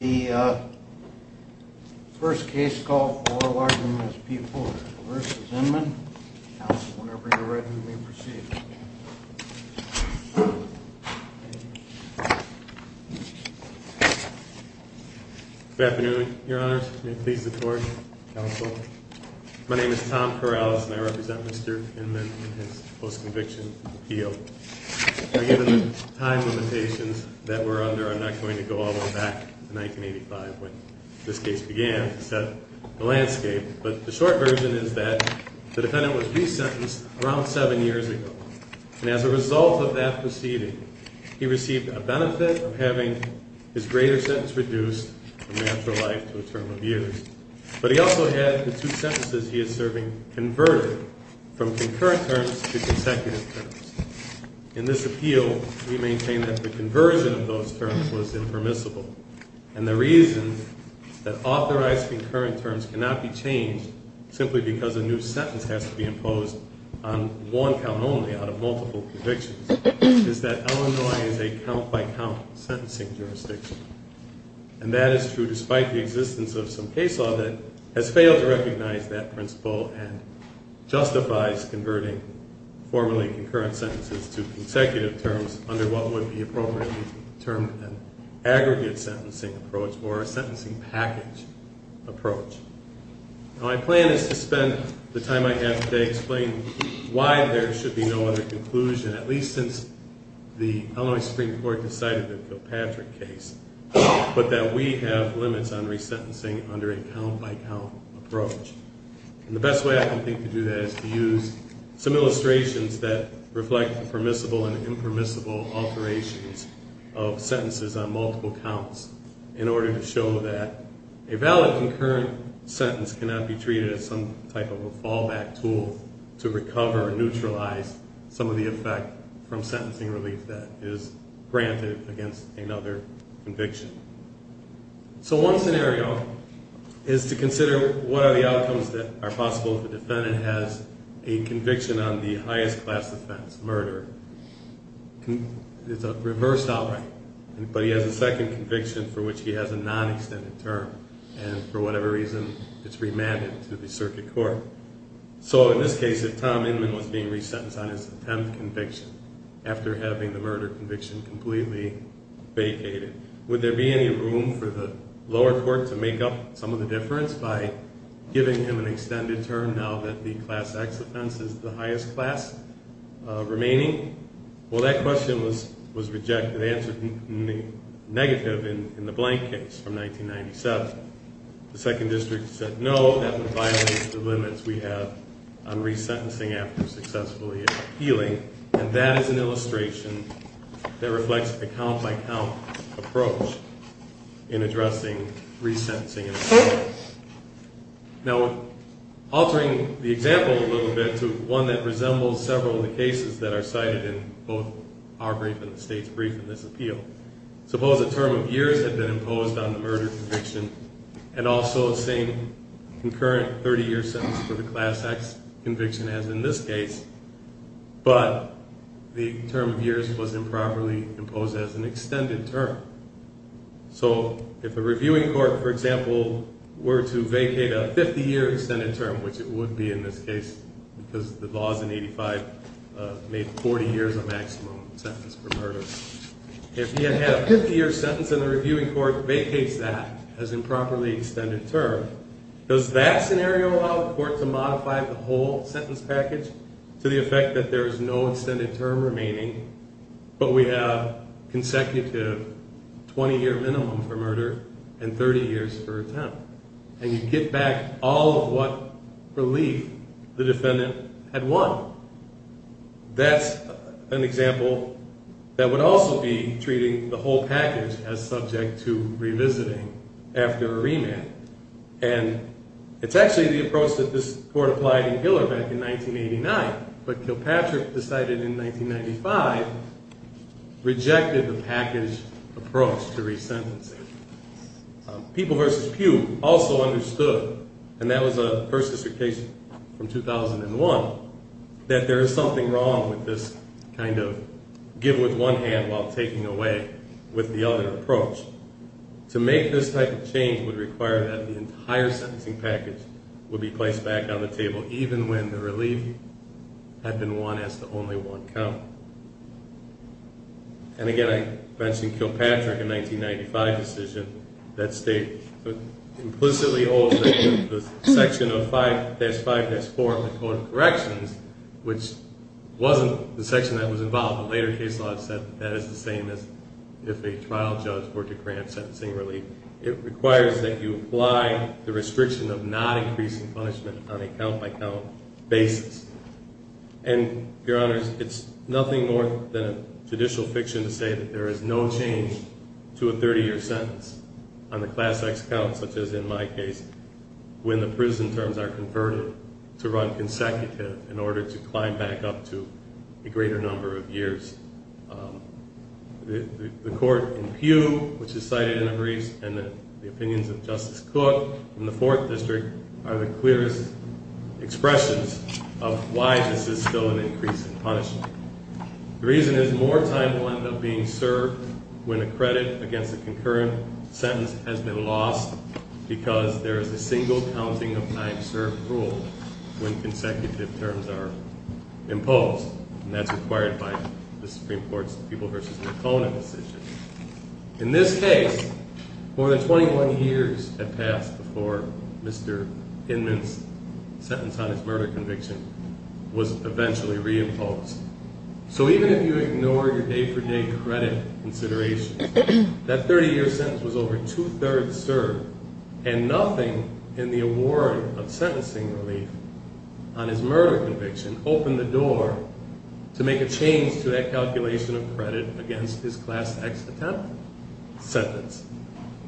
The first case called for is P. Porter v. Inman. Whenever you're ready, we'll proceed. Good afternoon, Your Honors. May it please the Court, Counsel. My name is Tom Corrales, and I represent Mr. Inman in his post-conviction appeal. Given the time limitations that we're under, I'm not going to go all the way back to 1985 when this case began to set the landscape. But the short version is that the defendant was resentenced around seven years ago. And as a result of that proceeding, he received a benefit of having his greater sentence reduced from natural life to a term of years. But he also had the two sentences he is serving converted from concurrent terms to consecutive terms. In this appeal, we maintain that the conversion of those terms was impermissible. And the reason that authorized concurrent terms cannot be changed simply because a new sentence has to be imposed on one count only out of multiple convictions is that Illinois is a count-by-count sentencing jurisdiction. And that is true despite the existence of some case law that has failed to recognize that principle and justifies converting formerly concurrent sentences to consecutive terms under what would be appropriately termed an aggregate sentencing approach or a sentencing package approach. My plan is to spend the time I have today explaining why there should be no other conclusion, at least since the Illinois Supreme Court decided the Kilpatrick case, but that we have limits on resentencing under a count-by-count approach. And the best way I can think to do that is to use some illustrations that reflect permissible and impermissible alterations of sentences on multiple counts in order to show that a valid concurrent sentence cannot be treated as some type of a fallback tool to recover or neutralize some of the effect from sentencing relief that is granted against another conviction. So one scenario is to consider what are the outcomes that are possible if a defendant has a conviction on the highest class offense, murder. It's a reversed outright, but he has a second conviction for which he has a non-extended term. And for whatever reason, it's remanded to the circuit court. So in this case, if Tom Inman was being resentenced on his 10th conviction after having the murder conviction completely vacated, would there be any room for the lower court to make up some of the difference by giving him an extended term now that the class X offense is the highest class remaining? Well, that question was rejected and answered negative in the Blank case from 1997. The second district said no, that would violate the limits we have on resentencing after successfully appealing, and that is an illustration that reflects the count-by-count approach in addressing resentencing. Now, altering the example a little bit to one that resembles several of the cases that are cited in both our brief and the state's brief in this appeal, suppose a term of years had been imposed on the murder conviction and also the same concurrent 30-year sentence for the class X conviction as in this case, but the term of years was improperly imposed as an extended term. So if a reviewing court, for example, were to vacate a 50-year extended term, which it would be in this case because the laws in 85 made 40 years a maximum sentence for murder, if you had had a 50-year sentence and the reviewing court vacates that as improperly extended term, does that scenario allow the court to modify the whole sentence package to the effect that there is no extended term remaining but we have consecutive 20-year minimum for murder and 30 years for attempt? And you get back all of what relief the defendant had won. That's an example that would also be treating the whole package as subject to revisiting after a remand. And it's actually the approach that this court applied in Giller back in 1989, but Kilpatrick decided in 1995 rejected the package approach to resentencing. People v. Pugh also understood, and that was a first district case from 2001, that there is something wrong with this kind of give with one hand while taking away with the other approach. To make this type of change would require that the entire sentencing package would be placed back on the table even when the relief had been won as to only one count. And again, I mentioned Kilpatrick in 1995 decision that state implicitly holds the section of 5-5-4 of the Code of Corrections, which wasn't the section that was involved. The later case law said that is the same as if a trial judge were to grant sentencing relief. It requires that you apply the restriction of not increasing punishment on a count-by-count basis. And, Your Honors, it's nothing more than a judicial fiction to say that there is no change to a 30-year sentence on the class X count, such as in my case, when the prison terms are converted to run consecutive in order to climb back up to a greater number of years. The court in Pugh, which is cited in the briefs, and the opinions of Justice Cook in the Fourth District are the clearest expressions of why this is still an increase in punishment. The reason is more time will end up being served when a credit against a concurrent sentence has been lost because there is a single counting of time served rule when consecutive terms are imposed. And that's required by the Supreme Court's People v. Nakona decision. In this case, more than 21 years had passed before Mr. Inman's sentence on his murder conviction was eventually reimposed. So even if you ignore your day-for-day credit considerations, that 30-year sentence was over two-thirds served and nothing in the award of sentencing relief on his murder conviction opened the door to make a change to that calculation of credit against his class X attempt sentence.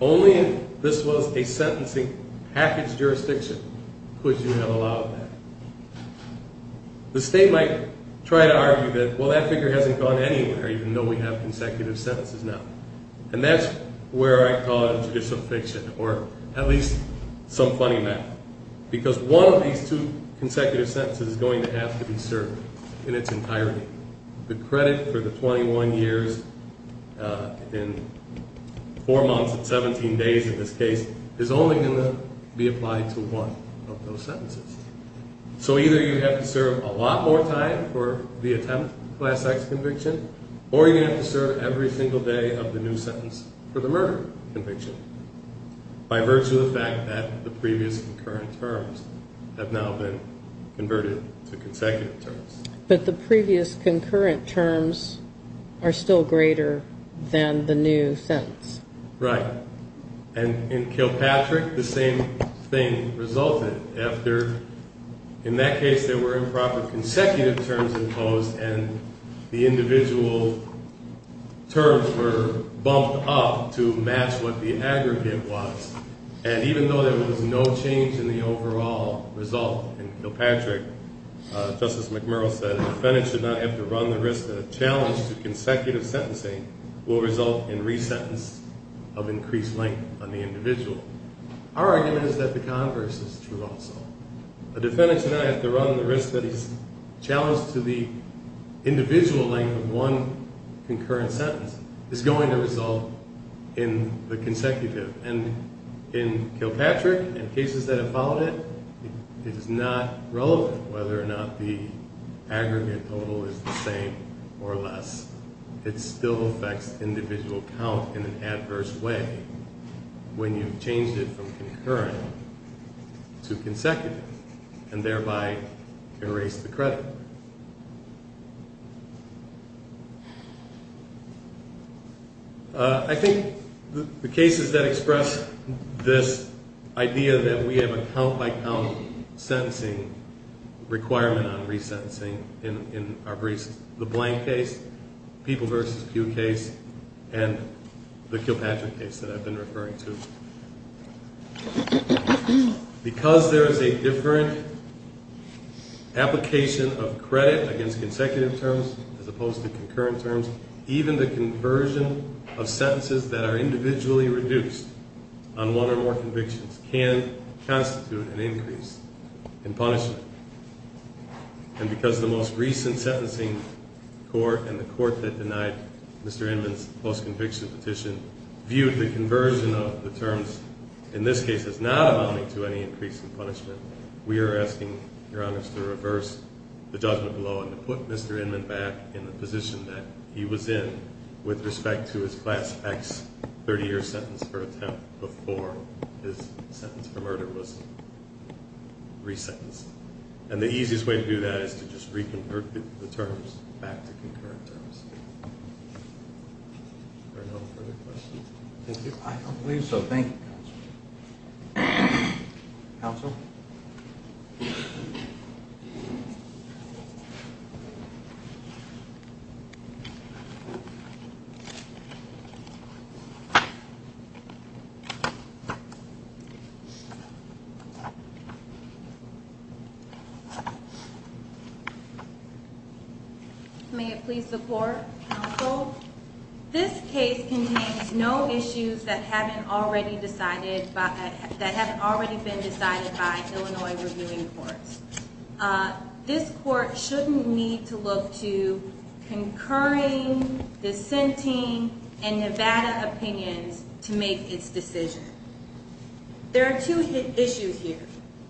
Only if this was a sentencing package jurisdiction could you have allowed that. The state might try to argue that, well, that figure hasn't gone anywhere even though we have consecutive sentences now. And that's where I call it a judicial fiction, or at least some funny math, because one of these two consecutive sentences is going to have to be served in its entirety. The credit for the 21 years in four months and 17 days in this case is only going to be applied to one of those sentences. So either you have to serve a lot more time for the attempt class X conviction, or you're going to have to serve every single day of the new sentence for the murder conviction by virtue of the fact that the previous concurrent terms have now been converted to consecutive terms. But the previous concurrent terms are still greater than the new sentence. Right. And in Kilpatrick, the same thing resulted after, in that case, there were improper consecutive terms imposed and the individual terms were bumped up to match what the aggregate was. And even though there was no change in the overall result in Kilpatrick, Justice McMurray said a defendant should not have to run the risk that a challenge to consecutive sentencing will result in resentence of increased length on the individual. Our argument is that the converse is true also. A defendant should not have to run the risk that he's challenged to the individual length of one concurrent sentence is going to result in the consecutive. And in Kilpatrick and cases that have followed it, it is not relevant whether or not the aggregate total is the same or less. It still affects individual count in an adverse way when you've changed it from concurrent to consecutive and thereby erased the credit. I think the cases that express this idea that we have a count-by-count sentencing requirement on resentencing in our briefs, the Blank case, People v. Pew case, and the Kilpatrick case that I've been referring to, because there is a different application of credit against consecutive terms as opposed to concurrent terms, even the conversion of sentences that are individually reduced on one or more convictions can constitute an increase in punishment. And because the most recent sentencing court and the court that denied Mr. Inman's post-conviction petition viewed the conversion of the terms in this case as not amounting to any increase in punishment, we are asking, Your Honor, to reverse the judgment below and to put Mr. Inman back in the position that he was in with respect to his Class X 30-year sentence for attempt before his sentence for murder was resentenced. And the easiest way to do that is to just reconvert the terms back to concurrent terms. Are there no further questions? Thank you. I don't believe so. Thank you, Counsel. Counsel? May it please the Court, Counsel? This case contains no issues that haven't already been decided by Illinois reviewing courts. This court shouldn't need to look to concurring, dissenting, and Nevada opinions to make its decision. There are two issues here.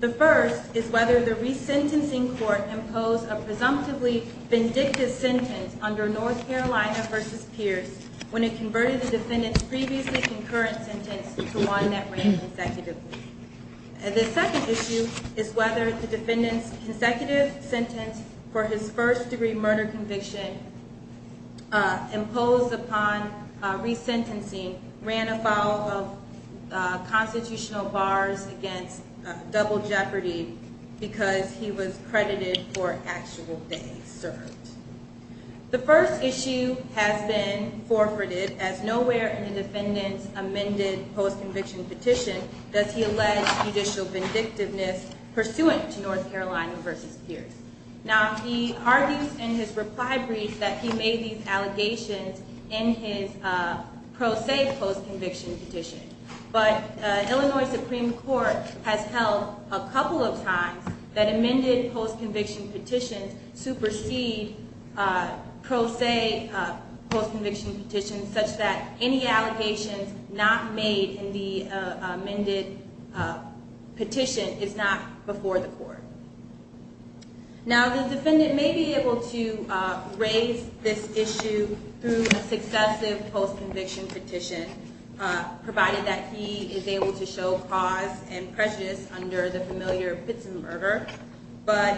The first is whether the resentencing court imposed a presumptively vindictive sentence under North Carolina v. Pierce when it converted the defendant's previously concurrent sentence to one that ran consecutively. The second issue is whether the defendant's consecutive sentence for his first-degree murder conviction imposed upon resentencing ran afoul of constitutional bars against double jeopardy because he was credited for actual days served. The first issue has been forfeited as nowhere in the defendant's amended post-conviction petition does he allege judicial vindictiveness pursuant to North Carolina v. Pierce. Now, he argues in his reply brief that he made these allegations in his pro se post-conviction petition, but Illinois Supreme Court has held a couple of times that amended post-conviction petitions supersede pro se post-conviction petitions such that any allegations not made in the amended petition is not before the court. Now, the defendant may be able to raise this issue through a successive post-conviction petition, provided that he is able to show cause and prejudice under the familiar Pittson murder, but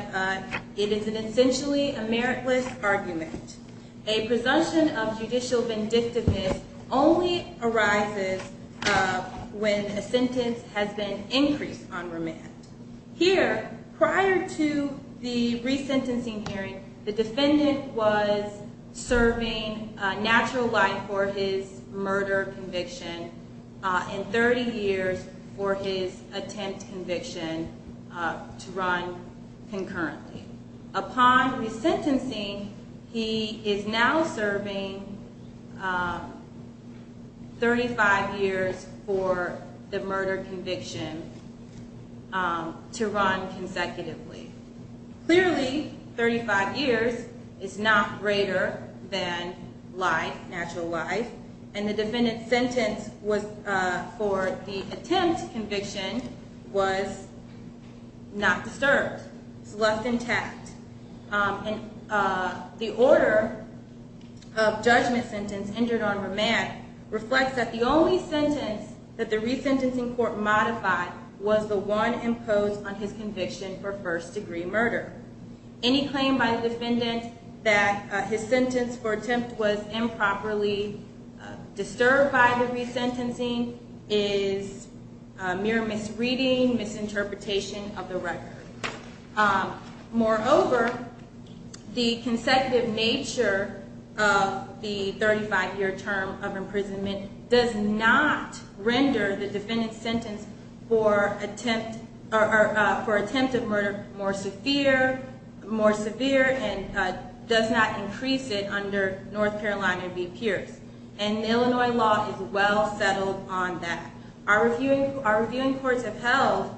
it is essentially a meritless argument. A presumption of judicial vindictiveness only arises when a sentence has been increased on remand. Here, prior to the resentencing hearing, the defendant was serving natural life for his murder conviction and 30 years for his attempt conviction to run concurrently. Upon resentencing, he is now serving 35 years for the murder conviction to run consecutively. Clearly, 35 years is not greater than life, natural life, and the defendant's sentence for the attempt conviction was not disturbed. It's left intact. The order of judgment sentence injured on remand reflects that the only sentence that the resentencing court modified was the one imposed on his conviction for first degree murder. Any claim by the defendant that his sentence for attempt was improperly disturbed by the resentencing is mere misreading, misinterpretation of the record. Moreover, the consecutive nature of the 35-year term of imprisonment does not render the defendant's sentence for attempt of murder more severe and does not increase it under North Carolina v. Pierce. And Illinois law is well settled on that. Our reviewing courts have held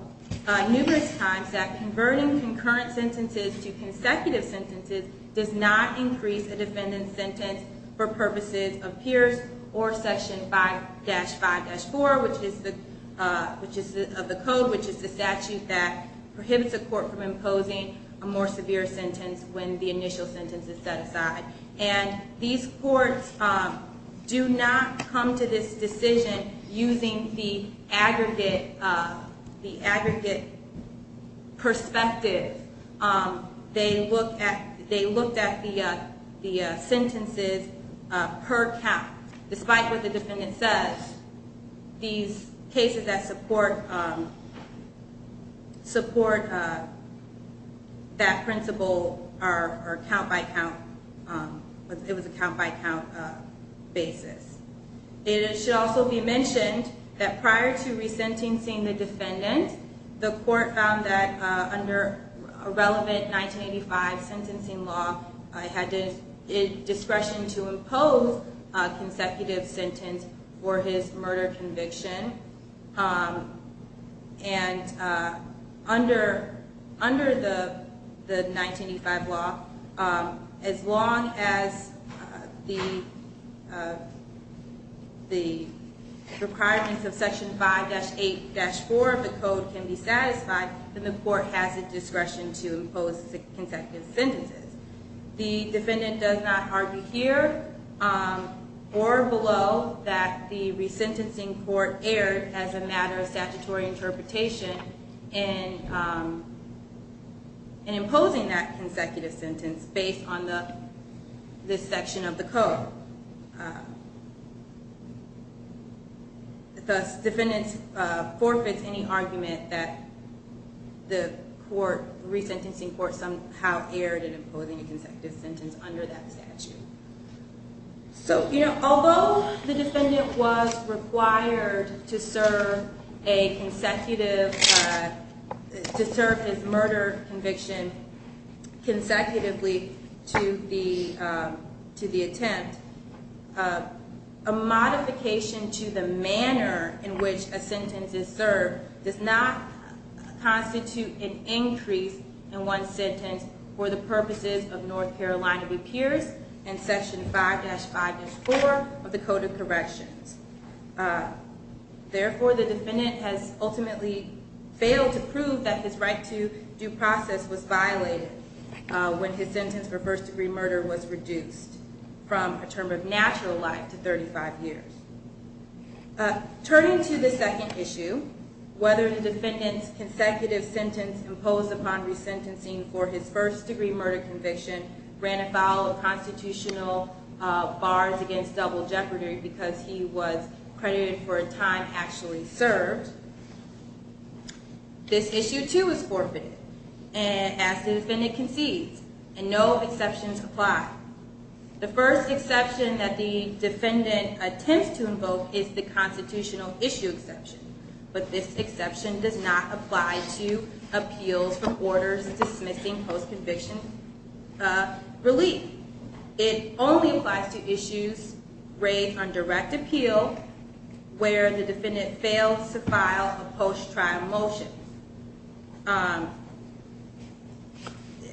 numerous times that converting concurrent sentences to consecutive sentences does not increase a defendant's sentence for purposes of Pierce or Section 5-5-4 of the code, which is the statute that prohibits a court from imposing a more severe sentence when the initial sentence is set aside. And these courts do not come to this decision using the aggregate perspective. They looked at the sentences per count. Despite what the defendant says, these cases that support that principle are count-by-count. It was a count-by-count basis. It should also be mentioned that prior to resentencing the defendant, the court found that under relevant 1985 sentencing law, it had discretion to impose a consecutive sentence for his murder conviction. And under the 1985 law, as long as the requirements of Section 5-8-4 of the code can be satisfied, then the court has the discretion to impose consecutive sentences. The defendant does not argue here or below that the resentencing court erred as a matter of statutory interpretation in imposing that consecutive sentence based on this section of the code. Thus, the defendant forfeits any argument that the resentencing court somehow erred in imposing a consecutive sentence under that statute. Although the defendant was required to serve his murder conviction consecutively to the attempt, a modification to the manner in which a sentence is served does not constitute an increase in one sentence for the purposes of North Carolina repairs and Section 5-5-4 of the Code of Corrections. Therefore, the defendant has ultimately failed to prove that his right to due process was violated when his sentence for first-degree murder was reduced from a term of natural life to 35 years. Turning to the second issue, whether the defendant's consecutive sentence imposed upon resentencing for his first-degree murder conviction ran afoul of constitutional bars against double jeopardy because he was credited for a time actually served, this issue, too, was forfeited as the defendant concedes, and no exceptions apply. The first exception that the defendant attempts to invoke is the constitutional issue exception, but this exception does not apply to appeals for orders dismissing post-conviction relief. It only applies to issues raised on direct appeal where the defendant fails to file a post-trial motion.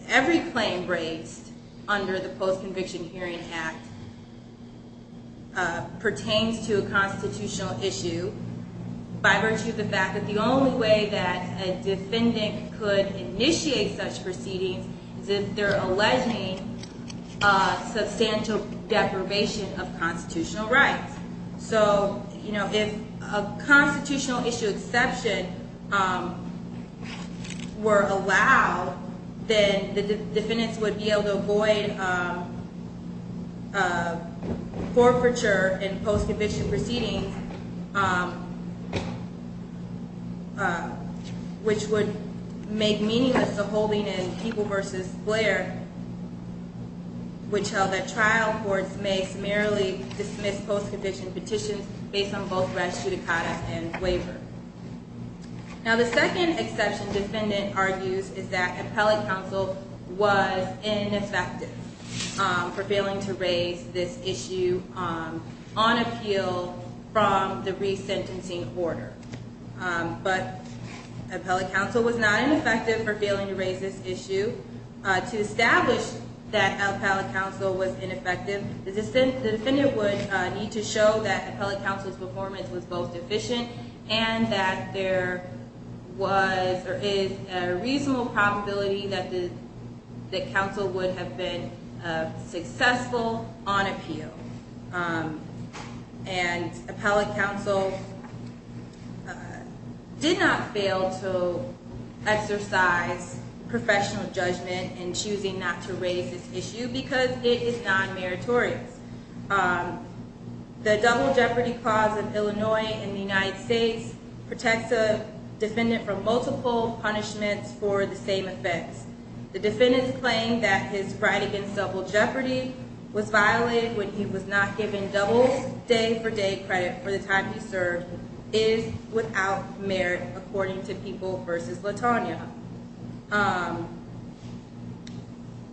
Every claim raised under the Post-Conviction Hearing Act pertains to a constitutional issue by virtue of the fact that the only way that a defendant could initiate such proceedings is if they're alleging substantial deprivation of constitutional rights. So, you know, if a constitutional issue exception were allowed, then the defendants would be able to avoid forfeiture in post-conviction proceedings, which would make meaningless the holding in People v. Blair, which held that trial courts may summarily dismiss post-conviction petitions based on both res judicata and waiver. Now, the second exception defendant argues is that appellate counsel was ineffective for failing to raise this issue on appeal from the resentencing order. But appellate counsel was not ineffective for failing to raise this issue. To establish that appellate counsel was ineffective, the defendant would need to show that appellate counsel's performance was both efficient and that there was or is a reasonable probability that counsel would have been successful on appeal. And appellate counsel did not fail to exercise professional judgment in choosing not to raise this issue because it is non-meritorious. The double jeopardy clause of Illinois and the United States protects a defendant from multiple punishments for the same effects. The defendant's claim that his pride against double jeopardy was violated when he was not given double day-for-day credit for the time he served is without merit, according to People v. LaTonya.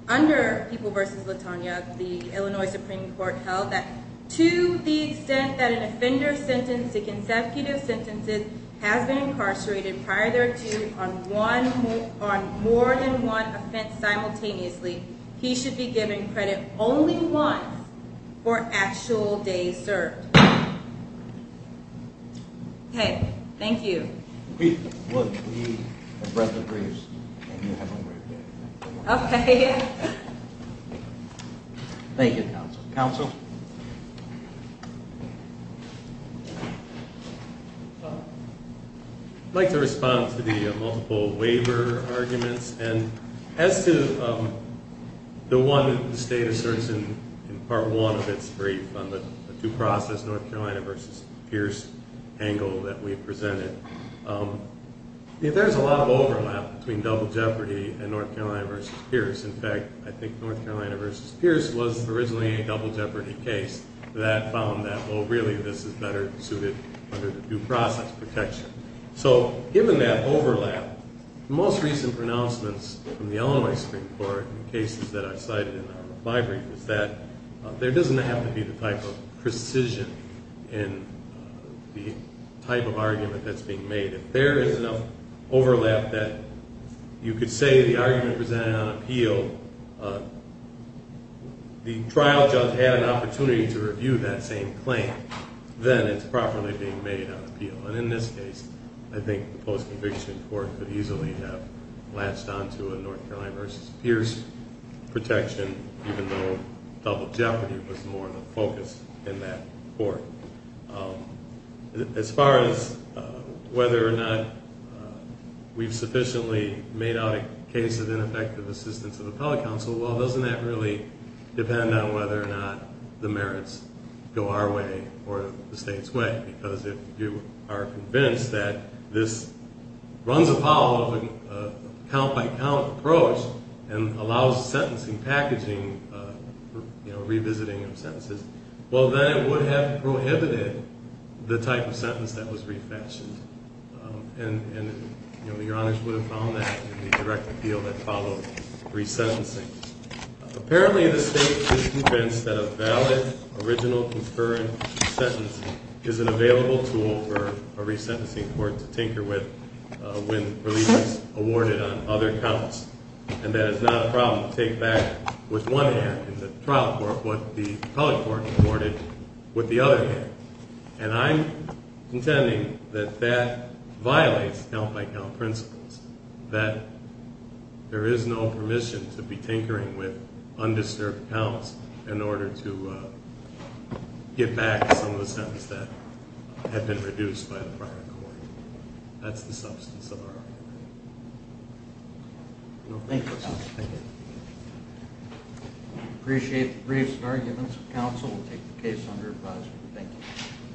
Under People v. LaTonya, the Illinois Supreme Court held that to the extent that an offender's sentence to consecutive sentences has been incarcerated prior thereto on more than one offense simultaneously, he should be given credit only once for actual days served. Okay. Thank you. We have read the briefs, and you have them right there. Okay. Thank you, counsel. I'd like to respond to the multiple waiver arguments. And as to the one that the State asserts in Part 1 of its brief on the due process, North Carolina v. Pierce angle that we presented, there's a lot of overlap between double jeopardy and North Carolina v. Pierce. In fact, I think North Carolina v. Pierce was originally a double jeopardy case. That found that, oh, really, this is better suited under the due process protection. So given that overlap, the most recent pronouncements from the Illinois Supreme Court in cases that I cited in the library was that there doesn't have to be the type of precision in the type of argument that's being made. If there is enough overlap that you could say the argument presented on appeal, the trial judge had an opportunity to review that same claim, then it's properly being made on appeal. And in this case, I think the post-conviction court could easily have latched onto a North Carolina v. Pierce protection, even though double jeopardy was more the focus in that court. As far as whether or not we've sufficiently made out a case of ineffective assistance to the public counsel, well, doesn't that really depend on whether or not the merits go our way or the state's way? Because if you are convinced that this runs afoul of a count-by-count approach and allows sentencing packaging, you know, revisiting of sentences, well, then it would have prohibited the type of sentence that was refashioned. And, you know, Your Honors would have found that in the direct appeal that followed resentencing. Apparently the state is convinced that a valid, original, concurrent sentencing is an available tool for a resentencing court to tinker with when relief is awarded on other counts, and that it's not a problem to take back with one hand in the trial court what the public court awarded with the other hand. And I'm contending that that violates count-by-count principles, that there is no permission to be tinkering with undisturbed counts in order to get back some of the sentences that have been reduced by the prior court. That's the substance of our argument. Thank you, counsel. I appreciate the briefs and arguments of counsel. We'll take the case under advisory. Thank you.